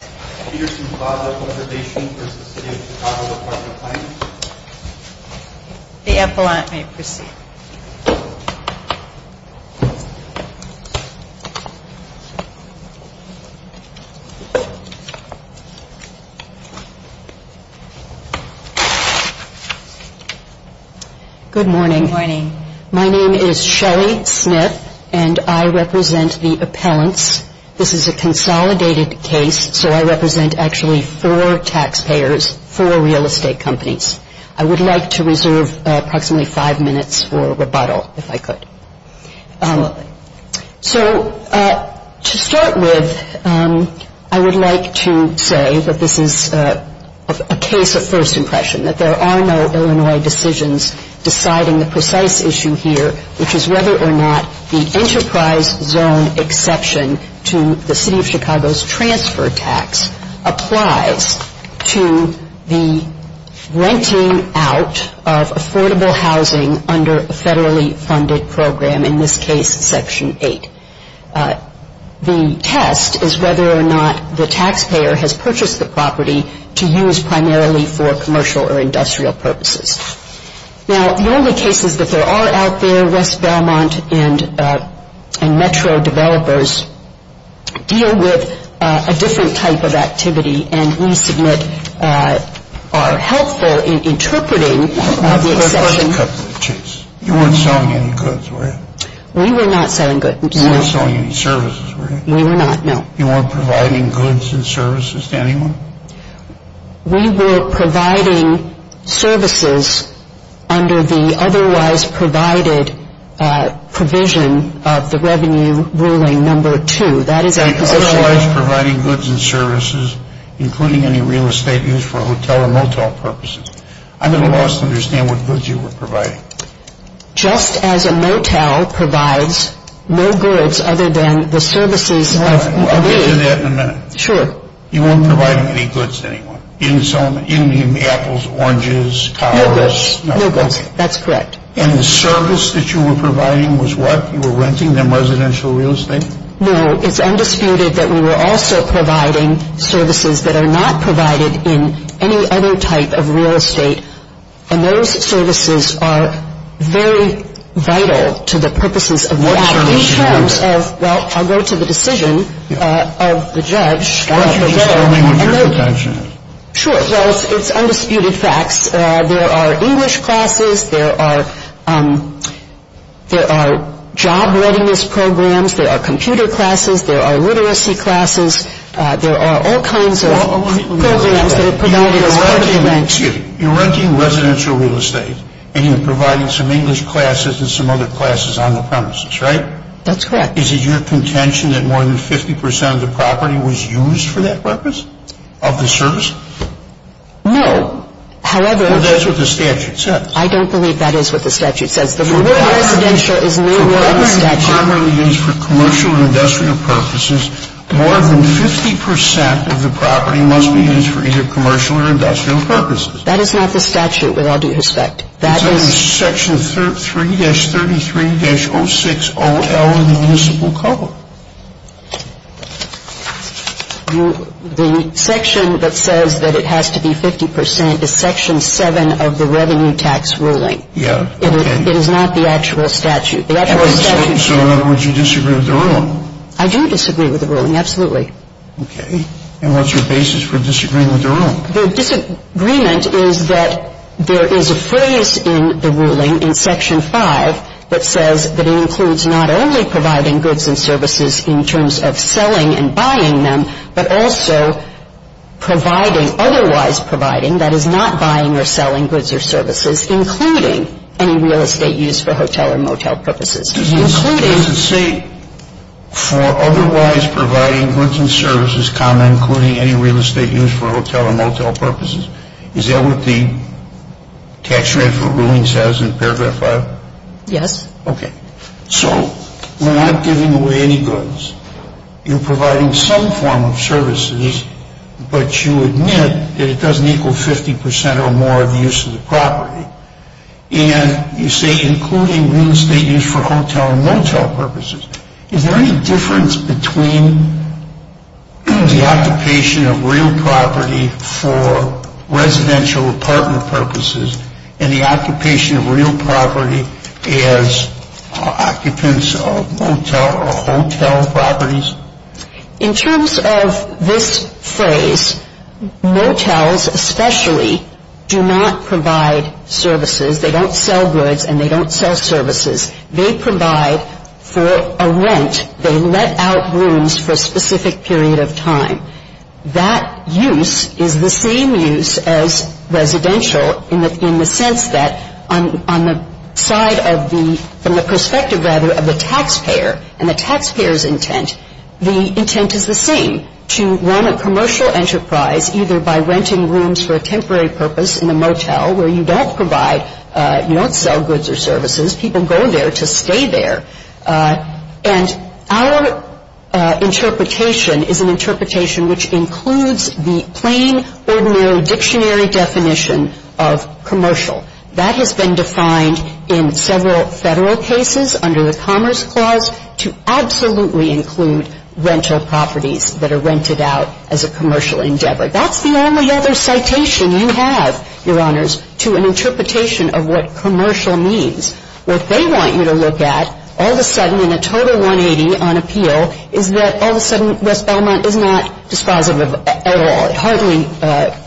Good morning. My name is Shelly Smith and I represent the appellants. This is a consolidated case, so I represent actually four taxpayers, four real estate companies. I would like to reserve approximately five minutes for rebuttal, if I could. So to start with, I would like to say that this is a case of first impression, that there are no Illinois decisions deciding the precise issue here, which is whether or not the enterprise zone exception to the City of Chicago's transfer tax applies to the renting out of affordable housing under a federally funded program, in this case, Section 8. The test is whether or not the taxpayer has purchased the property to use primarily for commercial or industrial purposes. Now, the only cases that there are out there, West Belmont and Metro developers deal with a different type of activity and we submit are helpful in interpreting the exception. You weren't selling any goods, were you? We were not selling goods. You weren't selling any services, were you? We were not, no. You weren't providing goods and services to anyone? We were providing services under the otherwise provided provision of the Revenue Ruling Number 2. That is our provision. So you were otherwise providing goods and services, including any real estate used for hotel or motel purposes. I'm going to allow us to understand what goods you were providing. Just as a motel provides no goods other than the services of... I'll get to that in a minute. Sure. You weren't providing any goods to anyone. You didn't sell any... you didn't give me apples, oranges, towels... No goods. No goods. That's correct. And the service that you were providing was what? You were renting them residential real estate? No. It's undisputed that we were also providing services that are not provided in any other type of real estate and those services are very vital to the purposes of... What in terms of... well, I'll go to the decision of the judge. Why don't you just tell me what your contention is? Sure. Well, it's undisputed facts. There are English classes, there are job readiness programs, there are computer classes, there are literacy classes, there are all kinds of programs that are provided as part of rents. You're renting residential real estate and you're providing some English classes and some other classes on the premises, right? That's correct. Is it your contention that more than 50% of the property was used for that purpose? Of the service? No. However... Well, that's what the statute says. I don't believe that is what the statute says. The word residential is no longer in the statute. For property commonly used for commercial or industrial purposes, more than 50% of the property must be used for either commercial or industrial purposes. That is not the statute with all due respect. That is... It's only Section 3-33-06-OL in the municipal code. The section that says that it has to be 50% is Section 7 of the Revenue Tax Ruling. Yeah, okay. It is not the actual statute. So in other words, you disagree with the ruling? I do disagree with the ruling, absolutely. Okay. And what's your basis for disagreeing with the ruling? The disagreement is that there is a phrase in the ruling in Section 5 that says that it includes not only providing goods and services in terms of selling and buying them, but also providing, otherwise providing, that is not buying or selling goods or services, including any real estate used for hotel or motel purposes. Does it say for otherwise providing goods and services, common including any real estate used for hotel and motel purposes? Is that what the tax rate for rulings says in Paragraph 5? Yes. Okay. So we're not giving away any goods. You're providing some form of services, but you admit that it doesn't equal 50% or more of the use of the property. And you say including real estate used for hotel and motel purposes. Is there any difference between the occupation of real property for residential apartment purposes and the occupation of real property as occupants of motel or hotel properties? In terms of this phrase, motels especially do not provide services. They don't sell goods and they don't sell services. They provide for a rent. They let out rooms for a specific period of time. That use is the same use as residential in the sense that on the side of the, from the perspective rather, of the taxpayer and the taxpayer's intent, the intent is the same, to run a commercial enterprise either by renting rooms for a temporary purpose in the motel where you don't provide, you don't sell goods or services. People go there to stay there. And our interpretation is an interpretation which includes the plain ordinary dictionary definition of commercial. That has been defined in several Federal cases under the Commerce Clause to absolutely include rental properties that are rented out as a commercial endeavor. That's the only other citation you have, Your Honors, to an interpretation of what commercial means. What they want you to look at, all of a sudden in a total 180 on appeal, is that all of a sudden West Belmont is not dispositive at all. It hardly,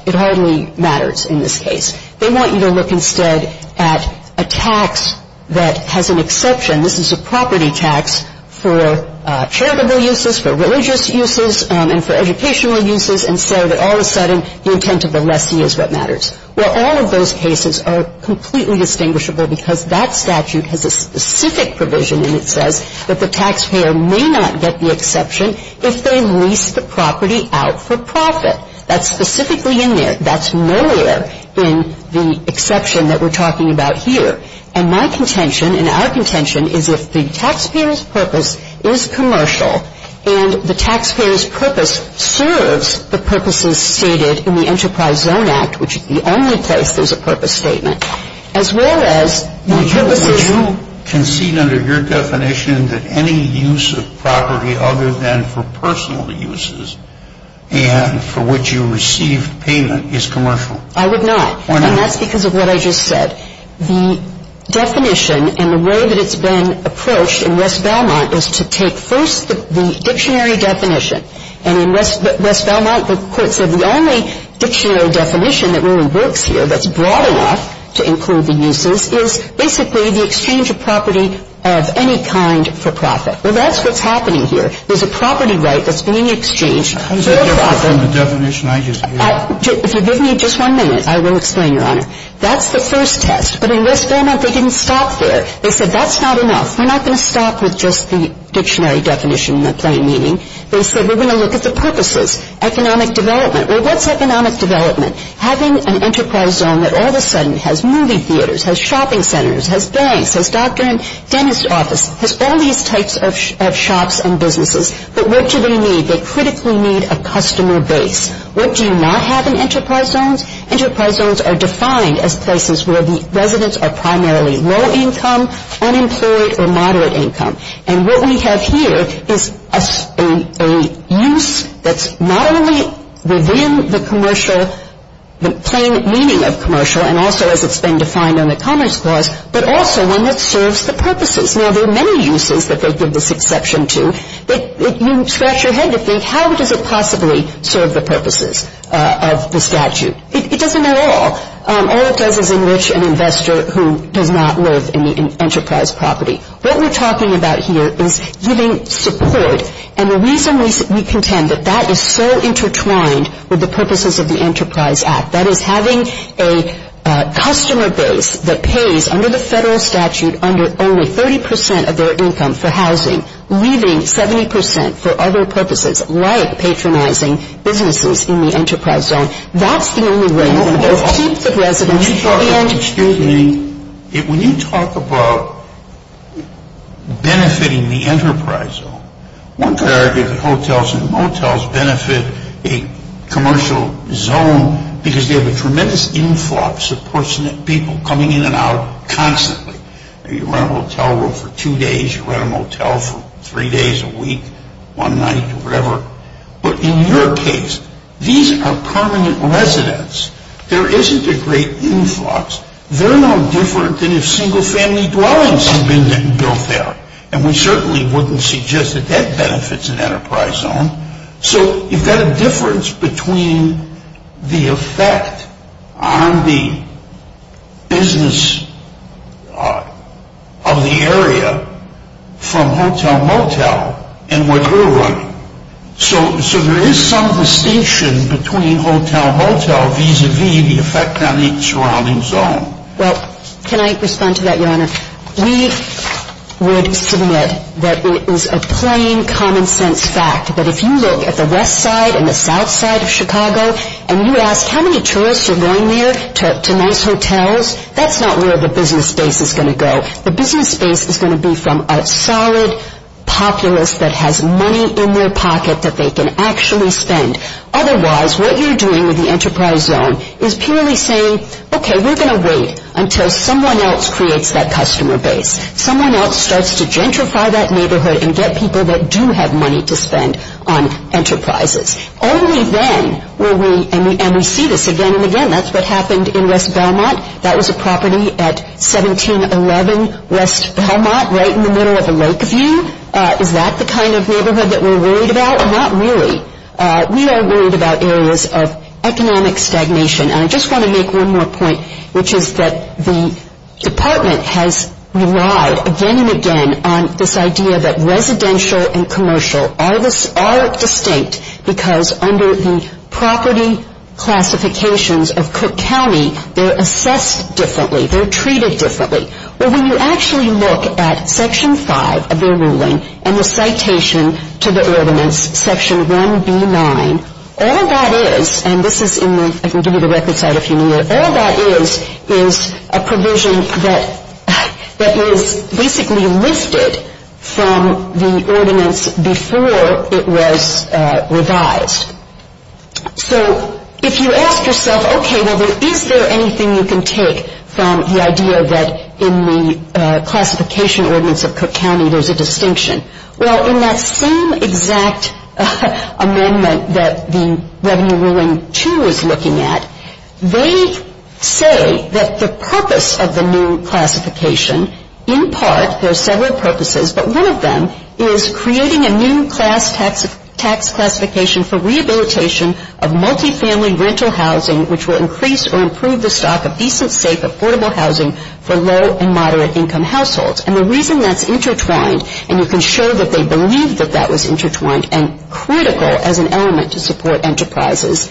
it hardly matters in this case. They want you to look instead at a tax that has an exception. This is a property tax for charitable uses, for religious uses, and for educational uses, and so that all of a sudden the intent of the lessee is what matters. Well, all of those cases are completely distinguishable because that statute has a specific provision and it says that the taxpayer may not get the exception if they lease the property out for profit. That's specifically in there. That's nowhere in the exception that we're talking about here. And my contention and our contention is if the taxpayer's purpose serves the purposes stated in the Enterprise Zone Act, which is the only place there's a purpose statement, as well as the purposes. Would you concede under your definition that any use of property other than for personal uses and for which you received payment is commercial? I would not. Why not? And that's because of what I just said. The definition and the way that it's been approached in West Belmont is to take first the dictionary definition. And in West Belmont, the Court said the only dictionary definition that really works here that's broad enough to include the uses is basically the exchange of property of any kind for profit. Well, that's what's happening here. There's a property right that's being exchanged for profit. How does that differ from the definition I just gave? If you give me just one minute, I will explain, Your Honor. That's the first test. But in West Belmont, they didn't stop there. They said that's not enough. We're not going to stop with just the dictionary definition in the plain meaning. They said we're going to look at the purposes, economic development. Well, what's economic development? Having an enterprise zone that all of a sudden has movie theaters, has shopping centers, has banks, has doctor and dentist offices, has all these types of shops and businesses. But what do they need? They critically need a customer base. What do you not have in enterprise zones? Enterprise zones are defined as places where the residents are primarily low income, unemployed, or moderate income. And what we have here is a use that's not only within the commercial, the plain meaning of commercial, and also as it's been defined on the Commerce Clause, but also one that serves the purposes. Now, there are many uses that they give this exception to, but you scratch your head to think how does it possibly serve the purposes of the statute? It doesn't at all. All it does is enrich an investor who does not live in the enterprise property. What we're talking about here is giving support. And the reason we contend that that is so intertwined with the purposes of the Enterprise Act, that is having a customer base that pays under the federal statute under only 30% of their income for housing, leaving 70% for other purposes, like patronizing businesses in the enterprise zone. That's the only way that those types of residents can get in. When you talk about benefiting the enterprise zone, one could argue that hotels and motels benefit a commercial zone because they have a tremendous influx of You rent a motel for three days a week, one night, or whatever. But in your case, these are permanent residents. There isn't a great influx. They're no different than if single family dwellings had been built there. And we certainly wouldn't suggest that that benefits an enterprise zone. So you've got a difference between the effect on the business of the area from hotel-motel and what we're running. So there is some distinction between hotel-motel vis-a-vis the effect on the surrounding zone. Well, can I respond to that, Your Honor? We would submit that it is a plain common-sense fact that if you look at the west side and the south side of Chicago and you ask how many tourists are going there to nice hotels, that's not where the business base is going to go. The business base is going to be from a solid populace that has money in their pocket that they can actually spend. Otherwise, what you're doing with the enterprise zone is purely saying, okay, we're going to wait until someone else creates that customer base. Someone else starts to gentrify that neighborhood and get people that do have money to spend on enterprises. Only then will we – and we see this again and again. That's what happened in West Belmont. That was a property at 1711 West Belmont, right in the middle of a lake view. Is that the kind of neighborhood that we're worried about? Not really. We are worried about areas of economic stagnation. And I just want to make one more point, which is that the Department has relied again and again on this idea that residential and commercial are distinct because under the property classifications of Cook County, they're assessed differently. They're treated differently. Well, when you actually look at Section 5 of their ruling and the citation to the ordinance, Section 1B9, all that is – and this is in the – I can give you the record site if you need it – all that is is a provision that is basically listed from the ordinance before it was revised. So if you ask yourself, okay, well, is there anything you can take from the idea that in the classification ordinance of Cook County there's a distinction? Well, in that same exact amendment that the Revenue Ruling 2 is purpose of the new classification, in part, there's several purposes, but one of them is creating a new class tax classification for rehabilitation of multifamily rental housing, which will increase or improve the stock of decent, safe, affordable housing for low- and moderate-income households. And the reason that's intertwined – and you can show that they believed that that was intertwined and critical as an element to support enterprises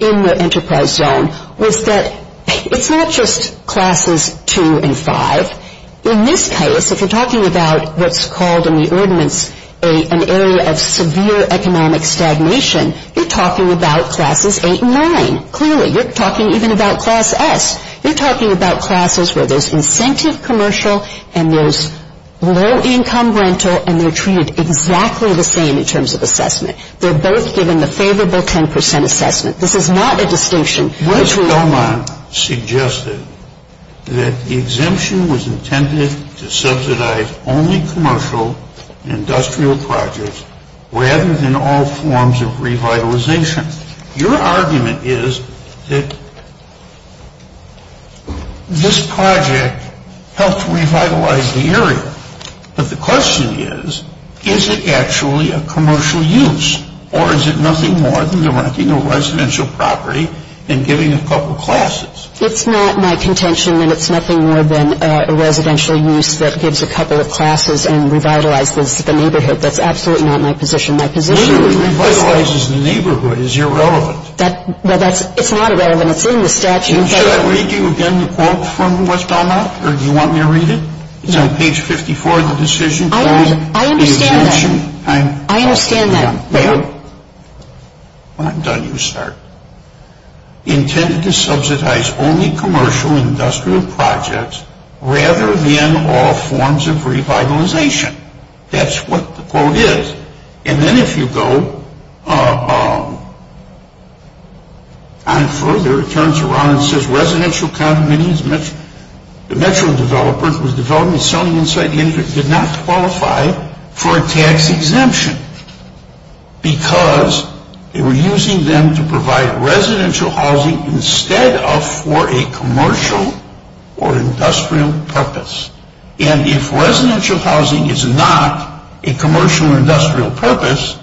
in the enterprise zone – was that it's not just Classes 2 and 5. In this case, if you're talking about what's called in the ordinance an area of severe economic stagnation, you're talking about Classes 8 and 9. Clearly, you're talking even about Class S. You're talking about classes where there's incentive commercial and there's low-income rental and they're treated exactly the same in terms of assessment. They're both given the favorable 10 percent assessment. This is not a distinction between – Mr. Belmont suggested that the exemption was intended to subsidize only commercial industrial projects rather than all forms of revitalization. Your argument is that this project helped revitalize the area, but the question is, is it actually a commercial use, or is it nothing more than renting a residential property and giving a couple of classes? It's not my contention that it's nothing more than a residential use that gives a couple of classes and revitalizes the neighborhood. That's absolutely not my position. My position is – What do you mean revitalizes the neighborhood? It's irrelevant. That – well, that's – it's not irrelevant. It's in the statute. Should I read you again the quote from Westall Mott, or do you want me to read it? No. It's on page 54 of the decision. I understand that. The exemption – I understand that. Well, when I'm done, you start. Intended to subsidize only commercial industrial projects rather than all forms of revitalization. That's what the quote is. And then if you go on further, it turns around and says residential condominiums – the Metro developers was developing and selling inside the area did not qualify for a tax exemption because they were using them to provide residential housing instead of for a commercial or industrial purpose. And if residential housing is not a commercial or industrial purpose,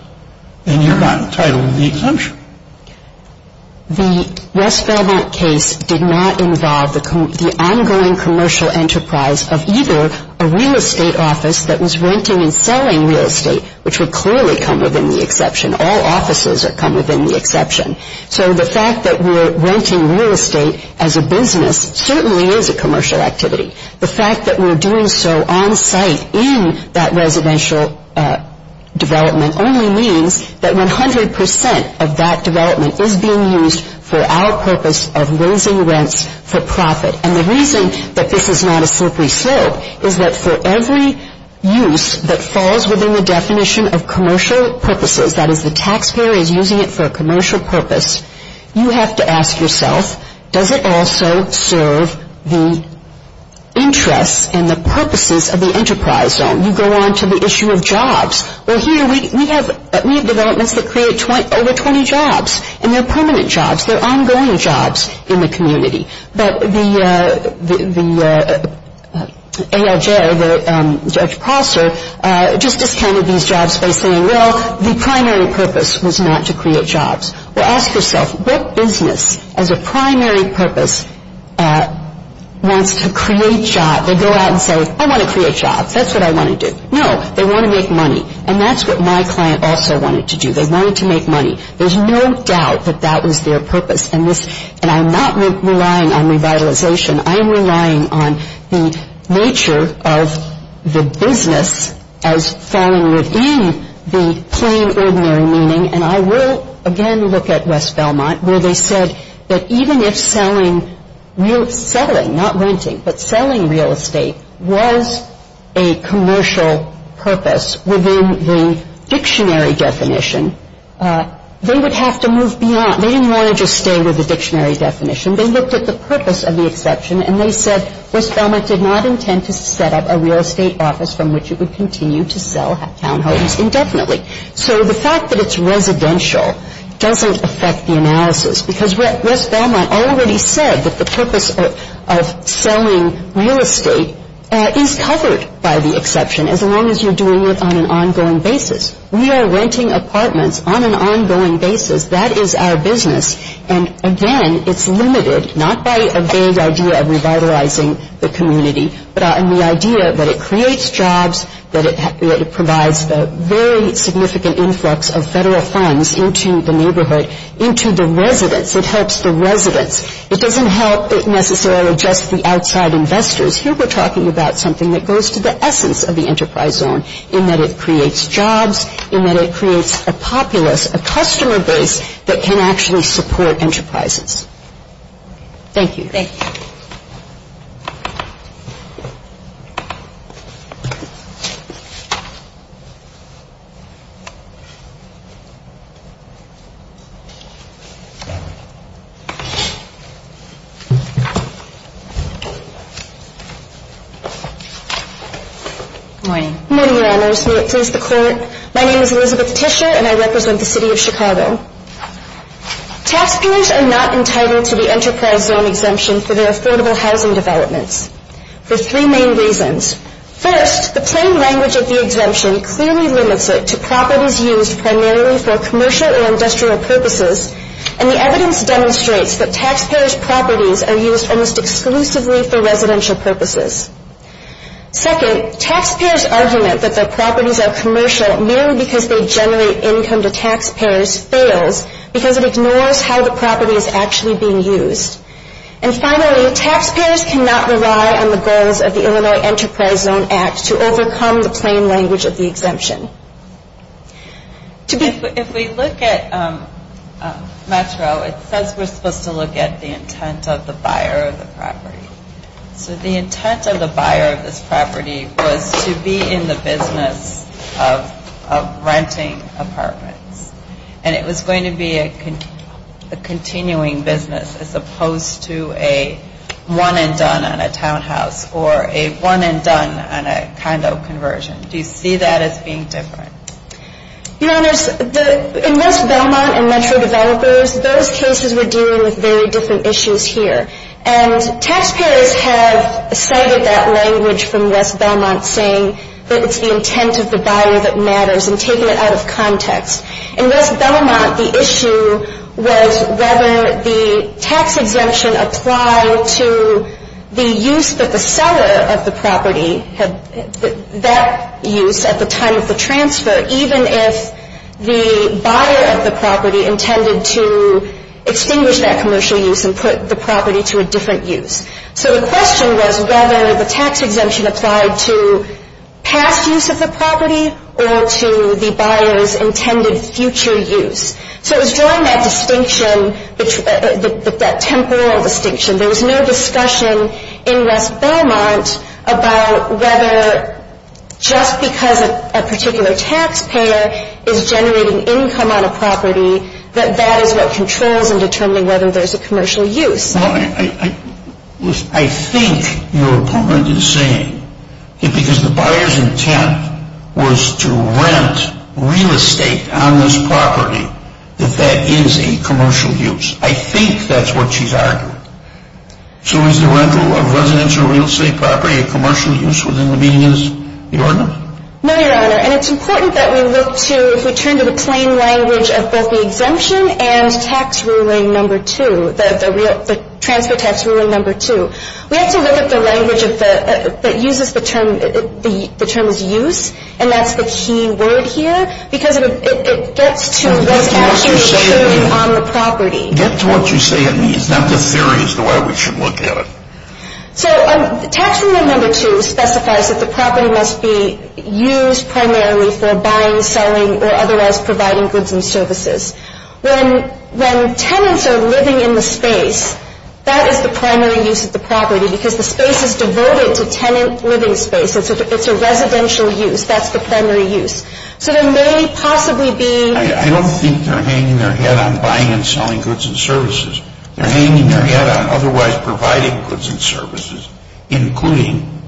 then you're not entitled to the exemption. The West Valmont case did not involve the ongoing commercial enterprise of either a real estate office that was renting and selling real estate, which would clearly come within the exception. All offices come within the exception. So the fact that we're renting real estate as a business certainly is a commercial activity. The fact that we're doing so on site in that residential development only means that 100 percent of that development is being used for our purpose of raising rents for profit. And the reason that this is not a slippery slope is that for every use that falls within the definition of commercial purposes – that is, the taxpayer is using it for a commercial purpose – you have to ask yourself, does it also serve the jobs? Well, here we have developments that create over 20 jobs, and they're permanent jobs. They're ongoing jobs in the community. But the ALJ, the Judge Prosser, just discounted these jobs by saying, well, the primary purpose was not to create jobs. Well, ask yourself, what business as a primary purpose wants to create jobs? They go out and say, I want to create jobs. That's what I want to do. No, they want to make money. And that's what my client also wanted to do. They wanted to make money. There's no doubt that that was their purpose. And I'm not relying on revitalization. I am relying on the nature of the business as falling within the plain, ordinary meaning. And I will again look at West Belmont, where they said that even if selling, not renting, but selling real estate was a commercial purpose within the dictionary definition, they would have to move beyond. They didn't want to just stay with the dictionary definition. They looked at the purpose of the exception, and they said West Belmont did not intend to set up a real estate office from which it would continue to sell townhomes indefinitely. So the fact that it's residential doesn't affect the selling real estate is covered by the exception, as long as you're doing it on an ongoing basis. We are renting apartments on an ongoing basis. That is our business. And again, it's limited not by a vague idea of revitalizing the community, but on the idea that it creates jobs, that it provides a very significant influx of federal funds into the neighborhood, into the residents. It helps the residents. It doesn't help necessarily just the outside investors. Here we're talking about something that goes to the essence of the enterprise zone, in that it creates jobs, in that it creates a populace, a customer base that can actually support enterprises. Thank you. Thank you. My name is Elizabeth Tischer, and I represent the city of Chicago. Taxpayers are not entitled to the enterprise zone exemption for their affordable housing developments for three main reasons. First, the plain language of the exemption clearly limits it to properties used primarily for commercial or industrial purposes, and the evidence demonstrates that taxpayers' properties are used almost exclusively for residential purposes. Second, taxpayers' argument that their properties are commercial merely because they generate income to taxpayers fails because it ignores how the property is actually being used. And finally, taxpayers cannot rely on the goals of the Illinois Enterprise Zone Act to overcome the plain language of the exemption. If we look at Metro, it says we're supposed to look at the intent of the buyer of the property. So the intent of the buyer of this property was to be in the business of renting apartments. And it was going to be a continuing business as opposed to a one-and-done on a townhouse or a one-and-done on a condo conversion. Do you see that as being different? Your Honors, in West Belmont and Metro developers, those cases were dealing with very different issues here. And taxpayers have cited that language from the beginning, that it's the intent of the buyer that matters, and taken it out of context. In West Belmont, the issue was whether the tax exemption applied to the use that the seller of the property had that use at the time of the transfer, even if the buyer of the property intended to extinguish that commercial use and put the property to a different use. So the question was whether the tax exemption applied to past use of the property or to the buyer's intended future use. So it was drawing that distinction, that temporal distinction. There was no discussion in West Belmont about whether just because a particular taxpayer is generating income on a property, that that is what controls in determining whether there's a commercial use. Well, I think your opponent is saying that because the buyer's intent was to rent real estate on this property, that that is a commercial use. I think that's what she's arguing. So is the rental of residential real estate property a commercial use within the meaning of the ordinance? No, Your Honor. And it's important that we look to, if we turn to the plain language of both the exemption and tax ruling number two, the transfer tax ruling number two, we have to look at the language that uses the term, the term is use, and that's the key word here, because it gets to what's actually true on the property. That's what you say it means. Not the theory is the way we should look at it. So tax rule number two specifies that the property must be used primarily for buying, selling, or otherwise providing goods and services. When tenants are living in the space, that is the primary use of the property, because the space is devoted to tenant living space. It's a residential use. That's the primary use. So there may possibly be I don't think they're hanging their head on buying and selling goods and services. They're hanging their head on otherwise providing goods and services, including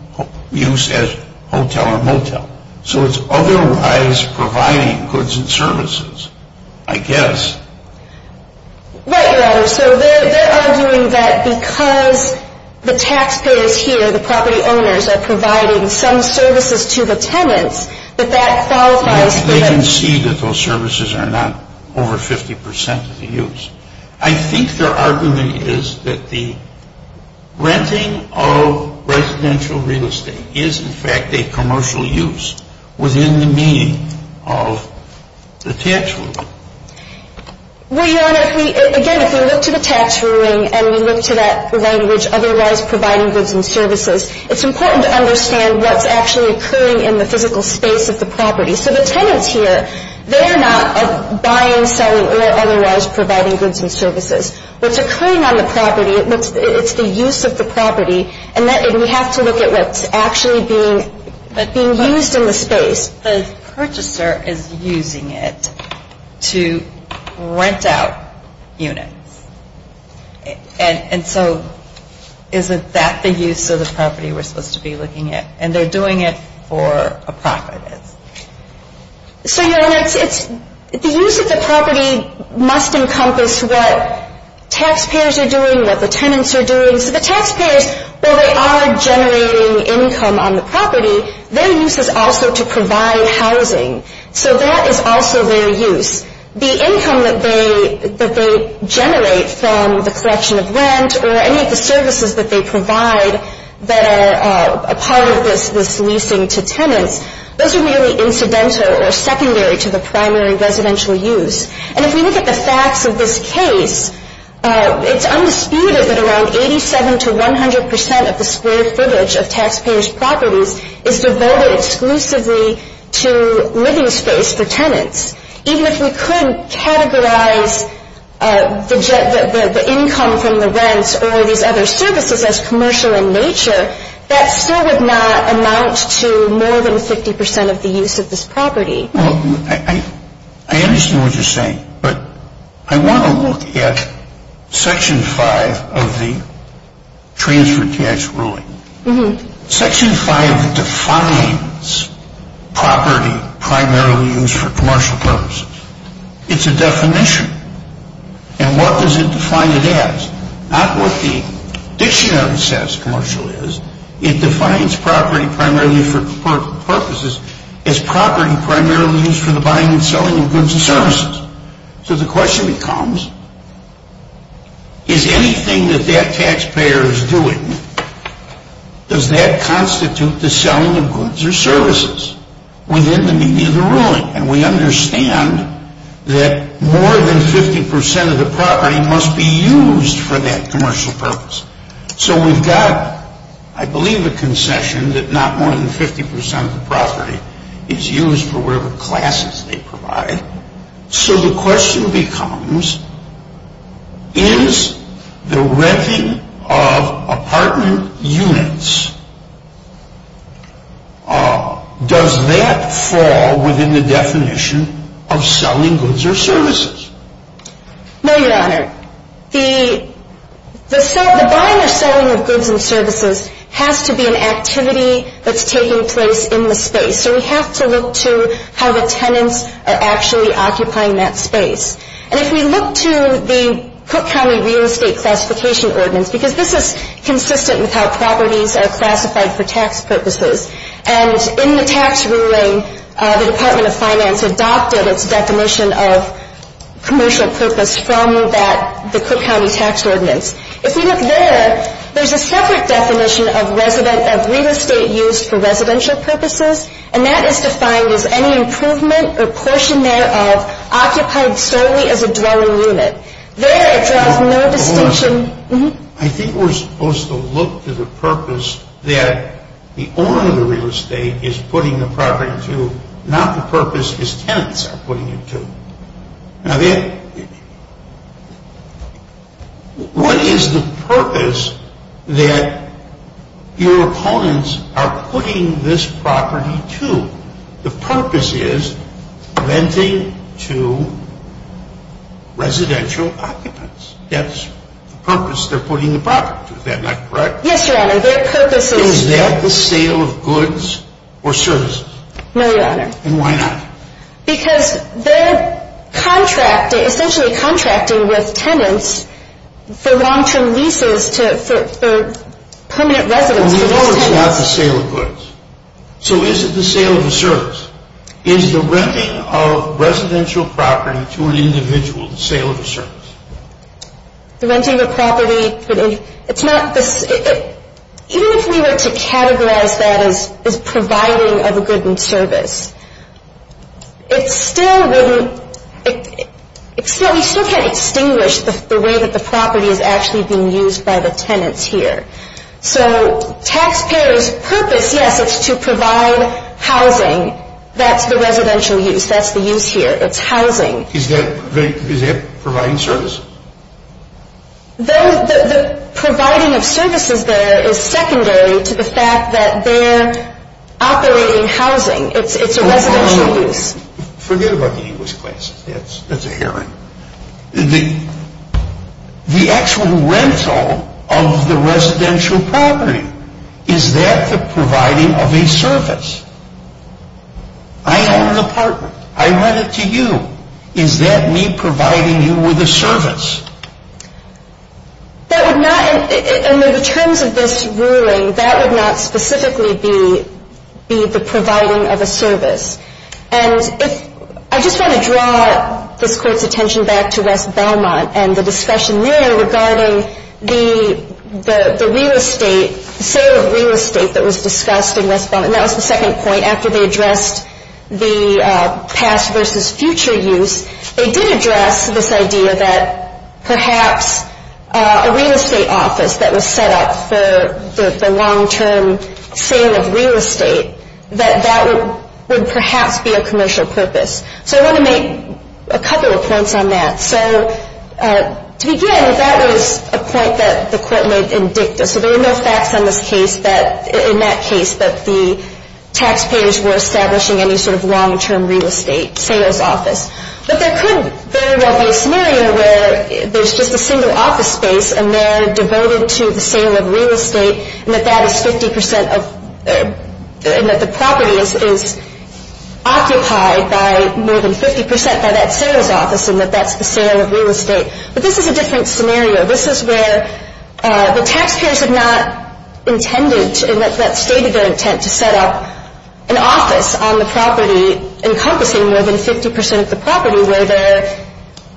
use as hotel or motel. So it's otherwise providing goods and services, I guess. Right, Your Honor. So they're arguing that because the taxpayers here, the property owners are providing some services to the tenants, that that qualifies They can see that those services are not over 50 percent of the use. I think your argument is that the renting of residential real estate is, in fact, a commercial use within the meaning of the tax rule. Well, Your Honor, again, if we look to the tax ruling and we look to that language otherwise providing goods and services, it's important to understand what's actually occurring in the physical space of the property. So the tenants here, they're not buying, selling, or otherwise providing goods and services. What's occurring on the property, it's the use of the property. And we have to look at what's actually being used in the space. But the purchaser is using it to rent out units. And so isn't that the use of the property we're supposed to be looking at? And they're doing it for a profit. So, Your Honor, the use of the property must encompass what taxpayers are doing, what the tenants are doing. So the taxpayers, while they are generating income on the property, their use is also to provide housing. So that is also their use. The income that they generate from the collection of rent or any of the services that they provide that are a part of this leasing to tenants, those are not really incidental or secondary to the primary residential use. And if we look at the facts of this case, it's undisputed that around 87 to 100 percent of the square footage of taxpayers' properties is devoted exclusively to living space for tenants. Even if we could categorize the income from the rents or these other services as commercial in nature, that still would not amount to more than 50 percent of the use of this property. Well, I understand what you're saying. But I want to look at Section 5 of the Transfer Tax Ruling. Section 5 defines property primarily used for commercial purposes. It's a definition. And what does it define it as? Not what the property primarily used for commercial purposes. It's property primarily used for the buying and selling of goods and services. So the question becomes, is anything that that taxpayer is doing, does that constitute the selling of goods or services within the meaning of the ruling? And we understand that more than 50 percent of the property must be used for that commercial purpose. So we've got, I believe, a concession that not more than 50 percent of the property is used for whatever classes they provide. So the question becomes, is the renting of apartment units, does that fall within the definition of selling goods or services? No, Your Honor. The buying or selling of goods and services has to be an activity that's taking place in the space. So we have to look to how the tenants are actually occupying that space. And if we look to the Cook County Real Estate Classification Ordinance, because this is consistent with how properties are classified for tax purposes, and in the tax ruling, the commercial purpose from the Cook County Tax Ordinance. If we look there, there's a separate definition of real estate used for residential purposes, and that is defined as any improvement or portion thereof occupied solely as a dwelling unit. There it draws no distinction. Your Honor, I think we're supposed to look to the purpose that the owner of the real estate is putting the property to, not the purpose his tenants are occupying. Now, what is the purpose that your opponents are putting this property to? The purpose is renting to residential occupants. That's the purpose they're putting the property to, is that not correct? Yes, Your Honor, their purpose is... Is that the sale of goods or services? No, Your Honor. And why not? Because they're contracting, essentially contracting with tenants for long-term leases to permanent residents. But we know it's not the sale of goods. So is it the sale of a service? Is the renting of residential property to an individual the sale of a service? The renting of a property, it's not... Even if we were to categorize that as providing of a good and service, it still wouldn't... We still can't extinguish the way that the property is actually being used by the tenants here. So taxpayers' purpose, yes, it's to provide housing. That's the residential use. That's the use here. It's housing. Is that providing service? The providing of services there is secondary to the fact that they're operating housing. It's a residential use. Forget about the English classes. That's a hearing. The actual rental of the residential property, is that the providing of a service? I own an apartment. I rent it to you. Is that me providing you with a service? That would not... Under the terms of this ruling, that would not specifically be the providing of a service. And if... I just want to draw this Court's attention back to West Belmont and the discussion there regarding the real estate, sale of real estate that was discussed in West Belmont. And that was the second point. After they addressed the past versus future use, they did address this idea that perhaps a real estate office that was set up for the long-term sale of real estate, that that would perhaps be a commercial purpose. So I want to make a couple of points on that. So to begin, that was a point that the Court made in dicta. So there were no facts in that case that the taxpayers were establishing any sort of long-term real estate sales office. But there could very well be a scenario where there's just a single office space, and they're devoted to the sale of real estate, and that that is 50 percent of... and that the property is occupied by more than 50 percent by that sales office, and that that's the sale of real estate. But this is a different scenario. This is where the taxpayers have not established a single office space on the property where they're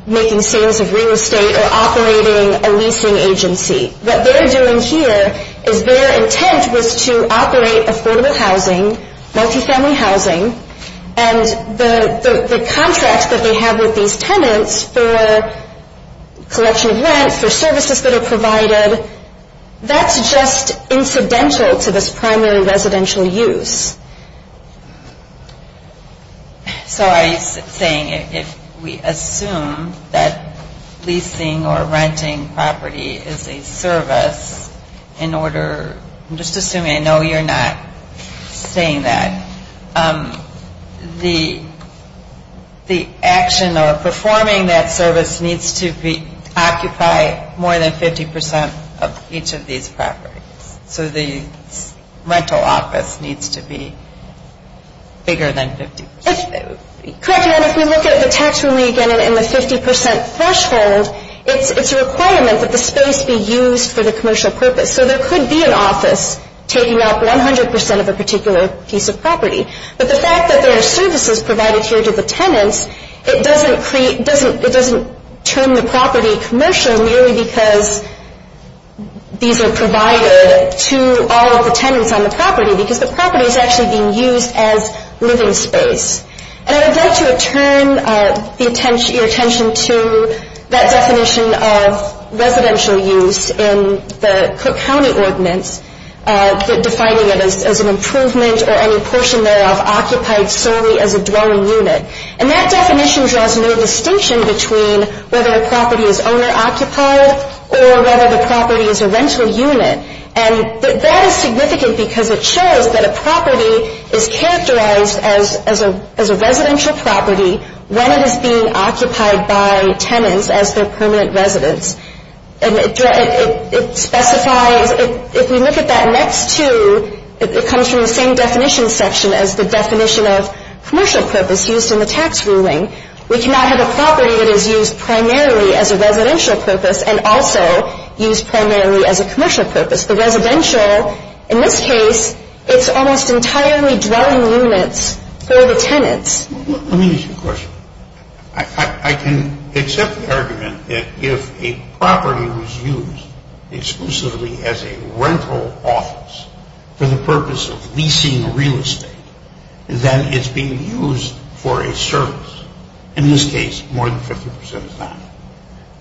making sales of real estate or operating a leasing agency. What they're doing here is their intent was to operate affordable housing, multifamily housing, and the contracts that they have with these tenants for collection of rent, for services that are provided, that's just what they're doing. If we assume that leasing or renting property is a service in order... I'm just assuming. I know you're not saying that. The action or performing that service needs to occupy more than 50 percent of each of these properties. So the rental office needs to be bigger than 50 percent. Correct me if I'm wrong, but if we look at the tax relief and the 50 percent threshold, it's a requirement that the space be used for the commercial purpose. So there could be an office taking up 100 percent of a particular piece of property. But the fact that there are services provided here to the tenants, it doesn't turn the property commercial merely because these are provided to all of the tenants on the property because the property is actually being used as living space. And I would like to return your attention to that definition of residential use in the Cook County Ordinance, defining it as an improvement or any portion thereof occupied solely as a dwelling unit. And that definition draws no distinction between whether a property is owner-occupied or whether the property is a rental unit. And that is significant because it shows that a property is characterized as a residential property when it is being occupied by tenants as their permanent residence. And it specifies, if we look at that next two, it is used primarily as a residential purpose and also used primarily as a commercial purpose. The residential, in this case, it's almost entirely dwelling units for the tenants. Let me ask you a question. I can accept the argument that if a property was used exclusively as a rental office for the purpose of leasing real estate, then it's being used for a service. In this case, more than 50 percent is not.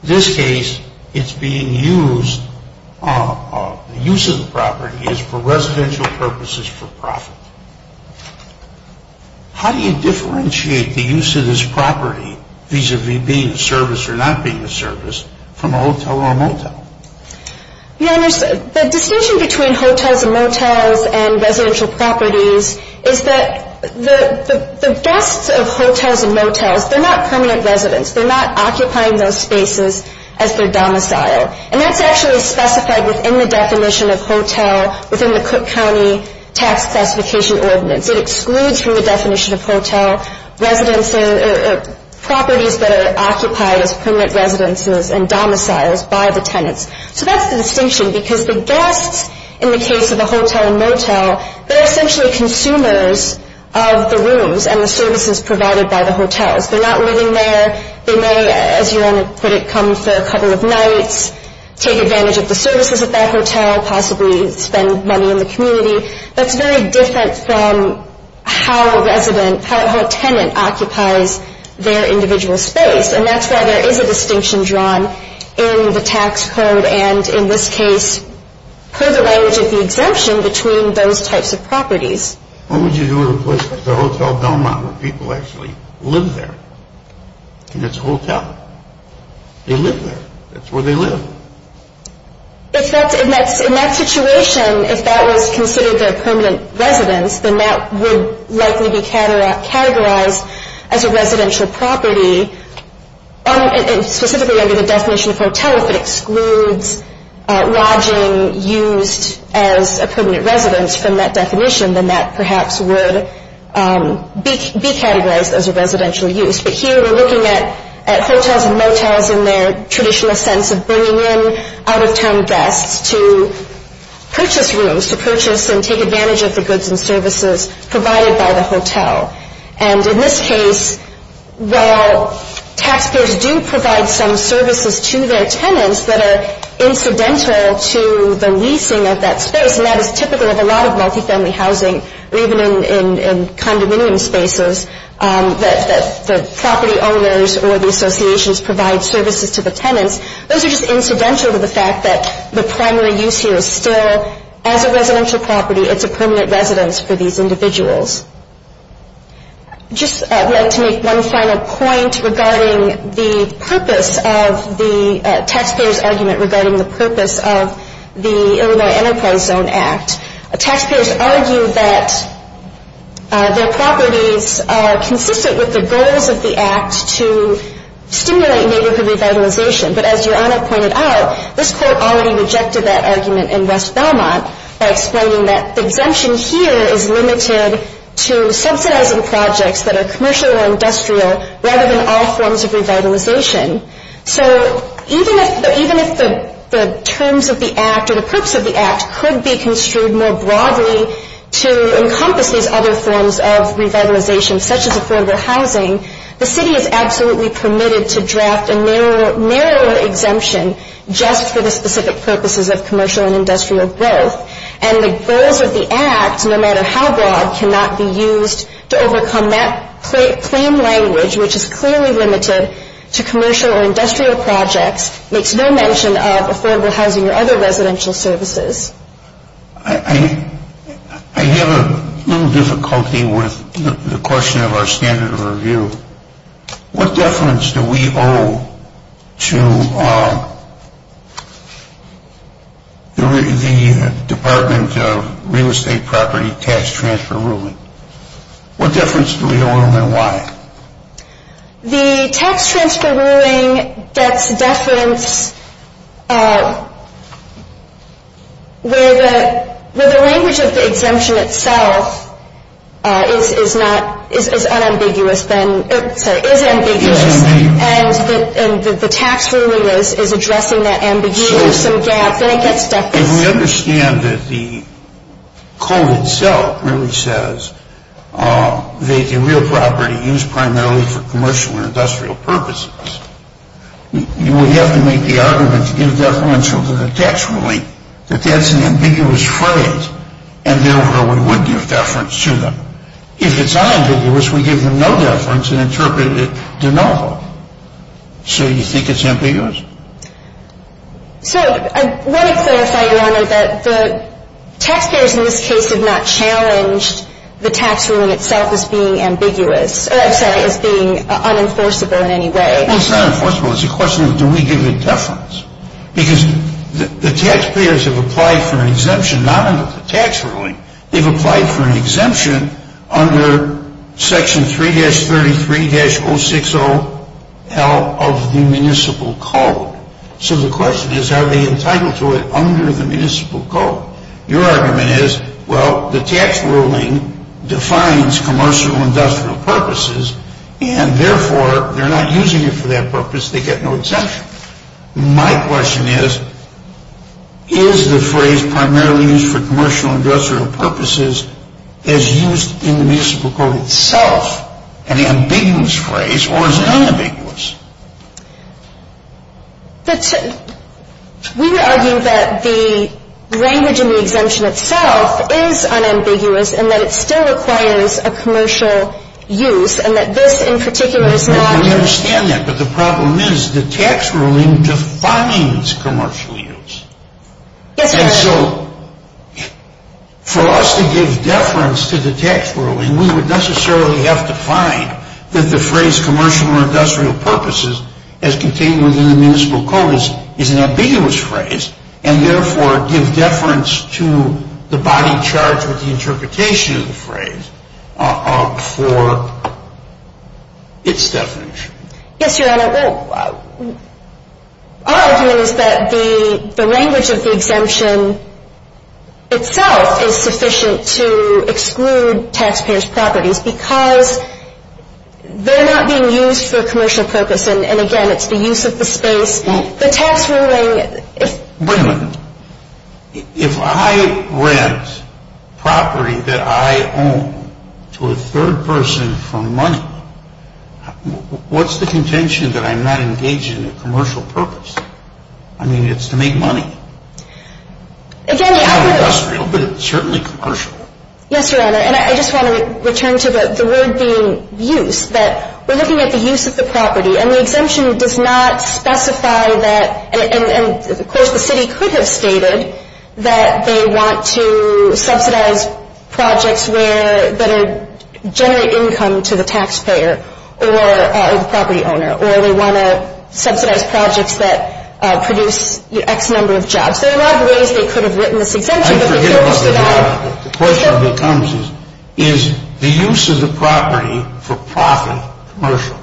In this case, it's being used, the use of the property is for residential purposes for profit. How do you differentiate the use of this property, vis-à-vis being a service or not being a service, from a hotel or a motel? The distinction between hotels and motels and residential properties is that the best of hotels and motels, they're not permanent residents. They're not occupying those spaces as their domicile. And that's actually specified within the definition of hotel within the Cook County Tax Specification Ordinance. It excludes from the definition of hotel residences or properties that are occupied as permanent residences and domiciles by the tenants. So that's the distinction, because the guests, in the case of a hotel and motel, they're essentially consumers of the rooms and the services provided by the hotels. They're not living there. They may, as your owner put it, come for a couple of nights, take advantage of the space that occupies their individual space. And that's why there is a distinction drawn in the tax code and, in this case, per the language of the exemption, between those types of properties. What would you do in a place like the Hotel Belmont where people actually live there? And it's a hotel. They live there. That's where they live. In that situation, if that was considered a permanent residence, then that would likely be categorized as a residential property. And specifically under the definition of hotel, if it excludes lodging used as a permanent residence from that definition, then that perhaps would be categorized as a residential use. But here we're looking at hotels and motels in their traditional sense of bringing in out-of-town guests to purchase rooms, to purchase and take advantage of the goods and services provided by the hotel. And in this case, while taxpayers do provide some services to their tenants that are incidental to the leasing of that space, and that is typical of a lot of multifamily housing, or even in condominium spaces, that the property owners or the associations provide services to the tenants, those are just incidental to the fact that the primary use here is still, as a residential property, it's a permanent residence for these individuals. Just to make one final point regarding the purpose of the taxpayer's argument regarding the purpose of the Illinois Enterprise Zone Act. Taxpayers argue that their properties are consistent with the goals of the act to stimulate neighborhood revitalization. But as Your Honor pointed out, this Court already rejected that argument in West Belmont by explaining that the exemption here is limited to subsidizing projects that are commercial or industrial rather than all forms of revitalization. So even if the terms of the act or the purpose of the act were to encompass these other forms of revitalization, such as affordable housing, the city is absolutely permitted to draft a narrower exemption just for the specific purposes of commercial and industrial growth. And the goals of the act, no matter how broad, cannot be used to overcome that claim language, which is clearly limited to commercial or industrial projects, makes no mention of We have a little difficulty with the question of our standard of review. What deference do we owe to the Department of Real Estate Property Tax Transfer Ruling? What deference do we owe and why? The tax transfer ruling gets deference where the language of the exemption itself is unambiguous, is ambiguous, and the tax ruling is addressing that ambiguous gap, then it gets deference. If we understand that the code itself really says that the real property used primarily for commercial and industrial purposes, you would have to make the argument to give deference to the tax ruling that that's an ambiguous phrase and therefore we would give deference to them. If it's unambiguous, we give them no deference and interpret it de novo. So you think it's ambiguous? So I want to clarify, Your Honor, that the taxpayers in this case have not challenged the tax ruling itself as being ambiguous, I'm sorry, as being unenforceable in any way. Well, it's not unenforceable. It's a question of do we give it deference? Because the taxpayers have applied for an exemption not under the tax ruling, they've applied for an exemption under Section 3-33-060L of the municipal code. So the question is are they entitled to it under the municipal code? Your argument is, well, the tax ruling defines commercial and industrial purposes and therefore they're not using it for that purpose, they get no My question is, is the phrase primarily used for commercial and industrial purposes as used in the municipal code itself an ambiguous phrase or is it unambiguous? We would argue that the language in the exemption itself is unambiguous and that it still requires a commercial use and that this in particular is not But the problem is the tax ruling defines commercial use. And so for us to give deference to the tax ruling, we would necessarily have to find that the phrase commercial or industrial purposes as contained within the municipal code is an ambiguous phrase and therefore give deference to the body charged with the interpretation of the phrase for its definition. Yes, Your Honor. Our argument is that the language of the exemption itself is sufficient to exclude taxpayers' properties because they're not being used for commercial purposes and again it's the use of the space. The tax ruling Wait a minute. If I rent property that I own to a third person for money, what's the contention that I'm not engaged in a commercial purpose? I mean it's to make money. It's not industrial but it's certainly commercial. Yes, Your Honor. And I just want to return to the word being used that we're looking at the use of the property and the exemption does not specify that and of course the city could have stated that they want to subsidize projects that generate income to the taxpayer or the property owner or they want to subsidize projects that produce X number of jobs. There are a lot of ways they could have written this exemption. The question becomes is the use of the property for profit commercial?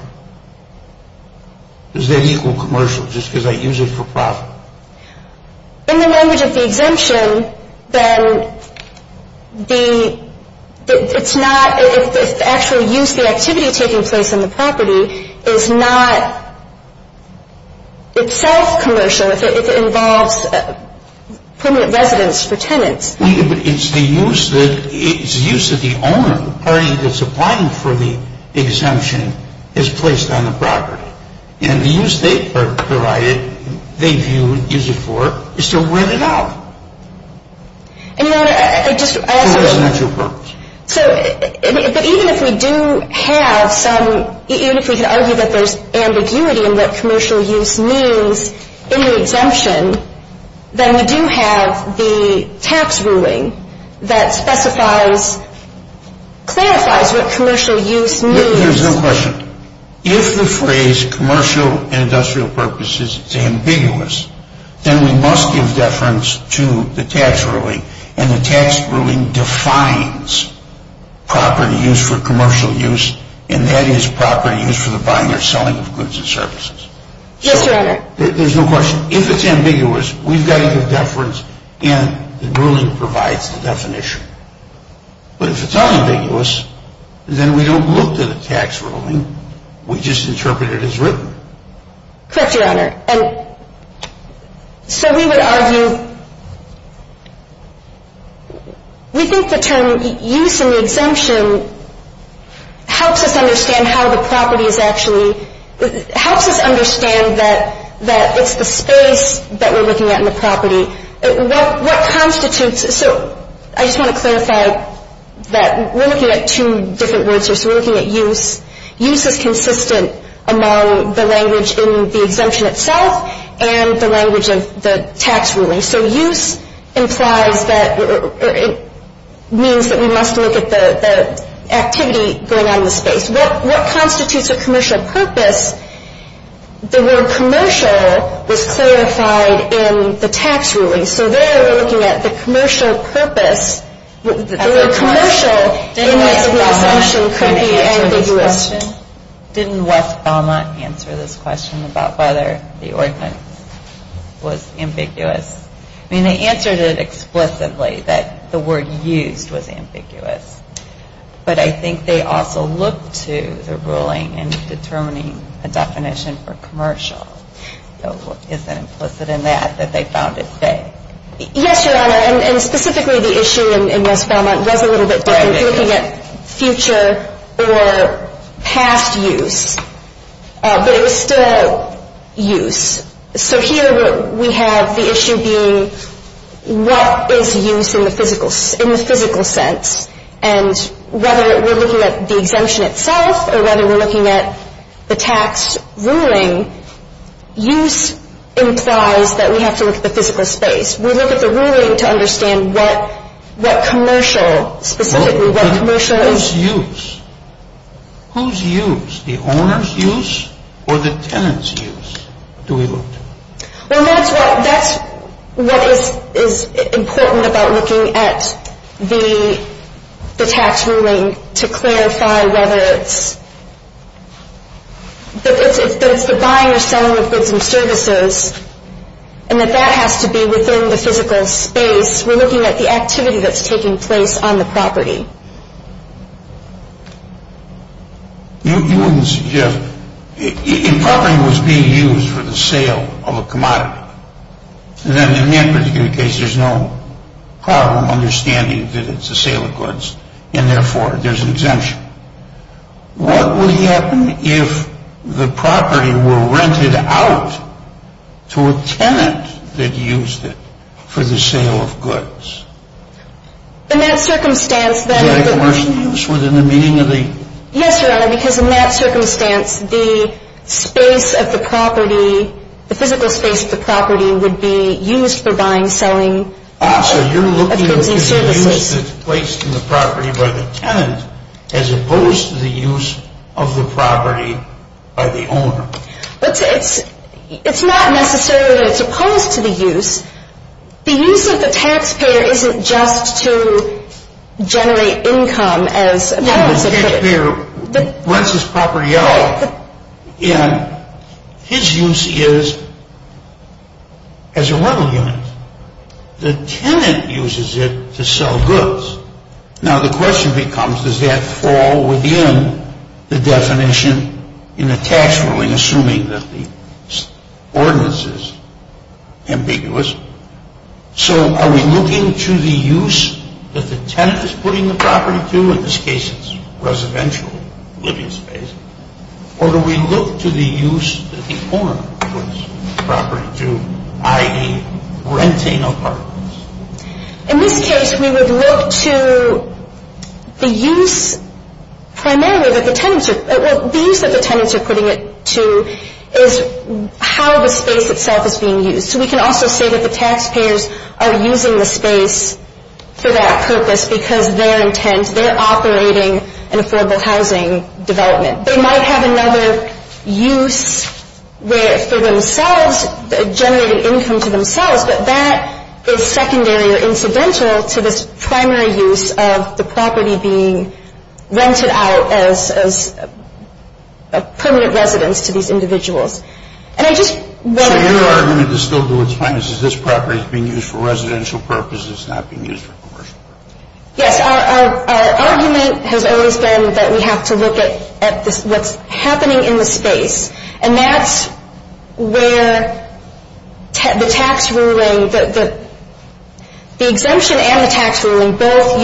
Does that equal commercial just because I use it for profit? In the language of the exemption then it's not if the actual use, the activity taking place on the property is not itself commercial. If it involves permanent residence for tenants. It's the use that the owner, the party that's applying for the exemption, is placed on the property. And the use they provide it, they use it for, is to rent it out. And, Your Honor, I just. For residential purpose. But even if we do have some, even if we can argue that there's ambiguity in what commercial use means in the exemption, then we do have the tax ruling that specifies, clarifies what commercial use means. There's no question. If the phrase commercial and industrial purposes is ambiguous, then we must give deference to the tax ruling. And the tax ruling defines property use for commercial use and that is property use for the buying or selling of goods and services. Yes, Your Honor. There's no question. If it's ambiguous, we've got to give deference and the ruling provides the definition. But if it's not ambiguous, then we don't look to the tax ruling. We just interpret it as written. Correct, Your Honor. And so we would argue, we think the term use in the exemption helps us understand how the property is actually, helps us understand that it's the space that we're looking at in the property. What constitutes, so I just want to clarify that we're looking at two different words here. So we're looking at use. Use is consistent among the language in the exemption itself and the language of the tax ruling. So use implies that, or it means that we must look at the activity going on in the space. What constitutes a commercial purpose? The word commercial was clarified in the tax ruling. So there we're looking at the commercial purpose. The word commercial in the exemption could be ambiguous. Didn't West Belmont answer this question about whether the ordinance was ambiguous? I mean, they answered it explicitly that the word used was ambiguous. But I think they also looked to the ruling in determining a definition for commercial. So is it implicit in that that they found it vague? Yes, Your Honor. And specifically the issue in West Belmont was a little bit different. Looking at future or past use. But it was still use. So here we have the issue being what is use in the physical sense. And whether we're looking at the exemption itself or whether we're looking at the tax ruling, use implies that we have to look at the physical space. We look at the ruling to understand what commercial, specifically what commercial is. Whose use? Whose use? The owner's use or the tenant's use do we look to? Well, that's what is important about looking at the tax ruling to clarify whether it's the buying or selling of goods and services and that that has to be within the physical space. We're looking at the activity that's taking place on the property. You wouldn't suggest, if property was being used for the sale of a commodity, then in that particular case there's no problem understanding that it's a sale of goods and therefore there's an exemption. What would happen if the property were rented out to a tenant that used it for the sale of goods? In that circumstance then... Is that a commercial use within the meaning of the... Yes, Your Honor, because in that circumstance the space of the property, the physical space of the property would be used for buying, selling of goods and services. Also, you're looking at the use that's placed in the property by the tenant as opposed to the use of the property by the owner. It's not necessarily that it's opposed to the use. The use of the taxpayer isn't just to generate income as a... No, the taxpayer rents this property out and his use is as a rental unit. The tenant uses it to sell goods. Now the question becomes, does that fall within the definition in the tax ruling, assuming that the ordinance is ambiguous? So are we looking to the use that the tenant is putting the property to? In this case it's residential living space. Or do we look to the use that the owner puts the property to, i.e. renting apartments? In this case we would look to the use primarily that the tenants are... Well, the use that the tenants are putting it to is how the space itself is being used. So we can also say that the taxpayers are using the space for that purpose because their intent, they're operating an affordable housing development. They might have another use for themselves, generating income to themselves, but that is secondary or incidental to this primary use of the property being rented out as a permanent residence to these individuals. And I just want to... So your argument is still to do with finances. This property is being used for residential purposes. It's not being used for commercial purposes. Yes, our argument has always been that we have to look at what's happening in the space. And that's where the tax ruling... The exemption and the tax ruling both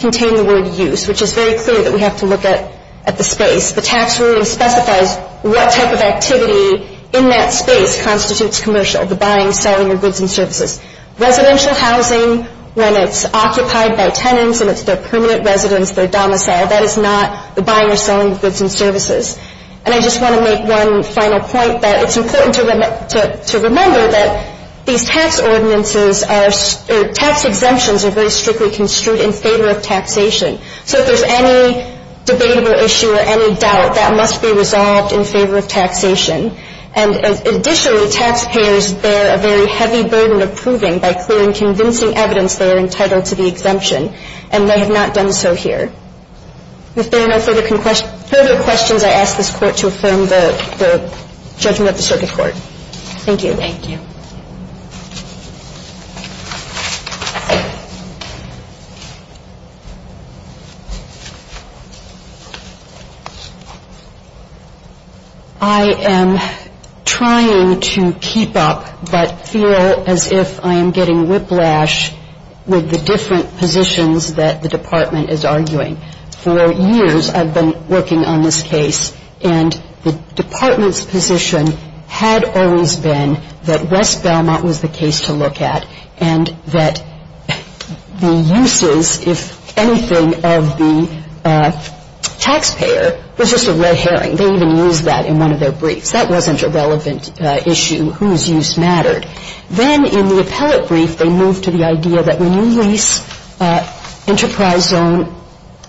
contain the word use, which is very clear that we have to look at the space. The tax ruling specifies what type of activity in that space constitutes commercial, the buying, selling of goods and services. Residential housing, when it's occupied by tenants and it's their permanent residence, their domicile, that is not the buying or selling of goods and services. And I just want to make one final point that it's important to remember that these tax ordinances are... Tax exemptions are very strictly construed in favor of taxation. So if there's any debatable issue or any doubt, that must be resolved in favor of taxation. And additionally, taxpayers bear a very heavy burden of proving by clearing convincing evidence they are entitled to the exemption, and they have not done so here. If there are no further questions, I ask this Court to affirm the judgment of the Circuit Court. Thank you. Thank you. I am trying to keep up but feel as if I am getting whiplash with the different positions that the Department is arguing. For years I've been working on this case, and the Department's position had always been that West Belmont was the case to look at and that the uses, if anything, of the taxpayer was just a red herring. They even used that in one of their briefs. That wasn't a relevant issue. Whose use mattered? Then in the appellate brief they moved to the idea that when you lease enterprise zone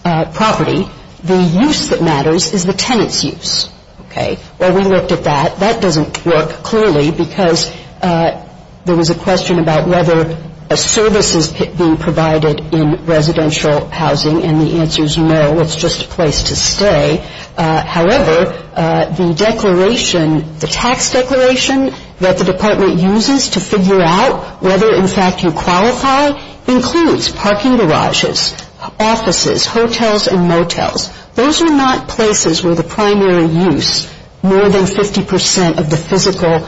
property, the use that matters is the tenant's use. Okay. Well, we looked at that. That doesn't work clearly because there was a question about whether a service is being provided in residential housing, and the answer is no, it's just a place to stay. However, the tax declaration that the Department uses to figure out whether, in fact, you qualify, includes parking garages, offices, hotels, and motels. Those are not places where the primary use, more than 50% of the physical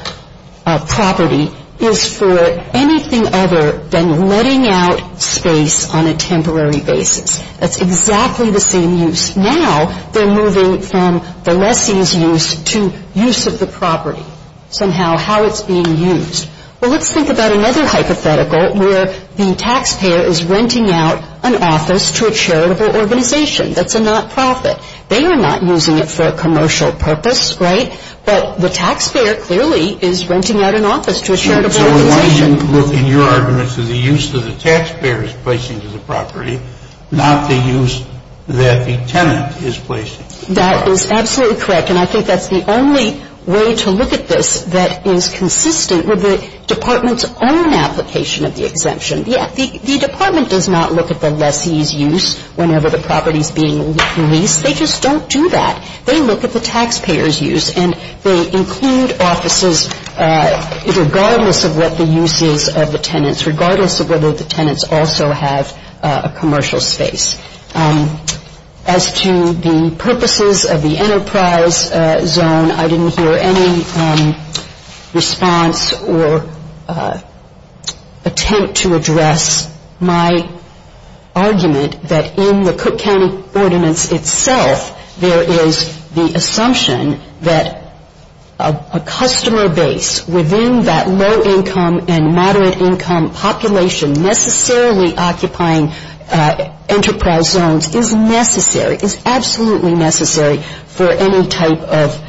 property, is for anything other than letting out space on a temporary basis. That's exactly the same use. Now they're moving from the lessee's use to use of the property somehow, how it's being used. Well, let's think about another hypothetical where the taxpayer is renting out an office to a charitable organization. That's a not-profit. They are not using it for a commercial purpose, right? But the taxpayer clearly is renting out an office to a charitable organization. I would like to look in your argument to the use that the taxpayer is placing to the property, not the use that the tenant is placing. That is absolutely correct, and I think that's the only way to look at this that is consistent with the Department's own application of the exemption. The Department does not look at the lessee's use whenever the property is being leased. They just don't do that. They look at the taxpayer's use, and they include offices regardless of what the use is of the tenants, regardless of whether the tenants also have a commercial space. As to the purposes of the enterprise zone, I didn't hear any response or attempt to address my argument that in the Cook County Ordinance itself, there is the assumption that a customer base within that low-income and moderate-income population necessarily occupying enterprise zones is necessary, is absolutely necessary for any type of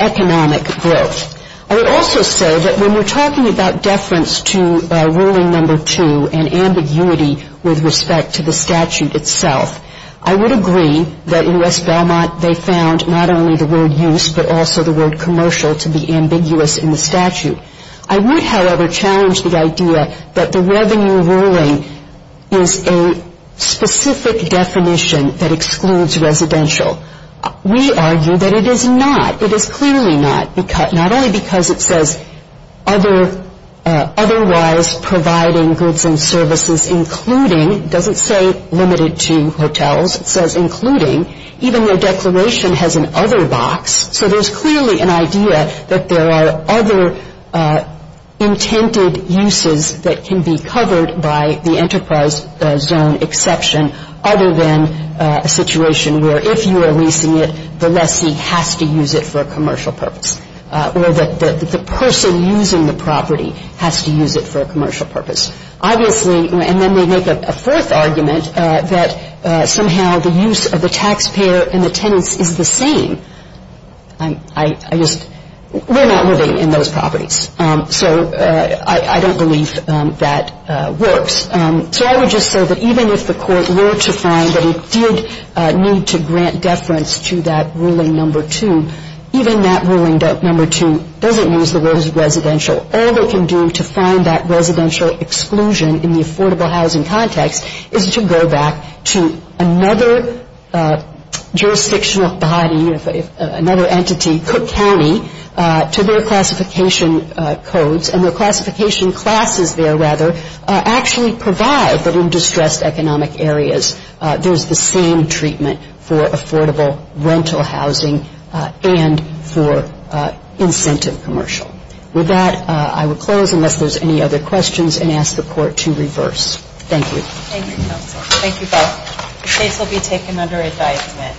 economic growth. I would also say that when we're talking about deference to Ruling No. 2 and ambiguity with respect to the statute itself, I would agree that in West Belmont they found not only the word use but also the word commercial to be ambiguous in the statute. I would, however, challenge the idea that the revenue ruling is a specific definition that excludes residential. We argue that it is not. It is clearly not, not only because it says otherwise providing goods and services including, it doesn't say limited to hotels, it says including, even though declaration has an other box. So there's clearly an idea that there are other intended uses that can be covered by the enterprise zone exception other than a situation where if you are leasing it, the lessee has to use it for a commercial purpose or that the person using the property has to use it for a commercial purpose. And then they make a fourth argument that somehow the use of the taxpayer and the tenants is the same. I just, we're not living in those properties. So I don't believe that works. So I would just say that even if the Court were to find that it did need to grant deference to that Ruling No. 2, even that Ruling No. 2 doesn't use the word residential. All they can do to find that residential exclusion in the affordable housing context is to go back to another jurisdictional body, another entity, Cook County, to their classification codes. And their classification classes there, rather, actually provide that in distressed economic areas there's the same treatment for affordable rental housing and for incentive commercial. With that, I will close unless there's any other questions and ask the Court to reverse. Thank you. Thank you, Counsel. Thank you both. The case will be taken under advisement.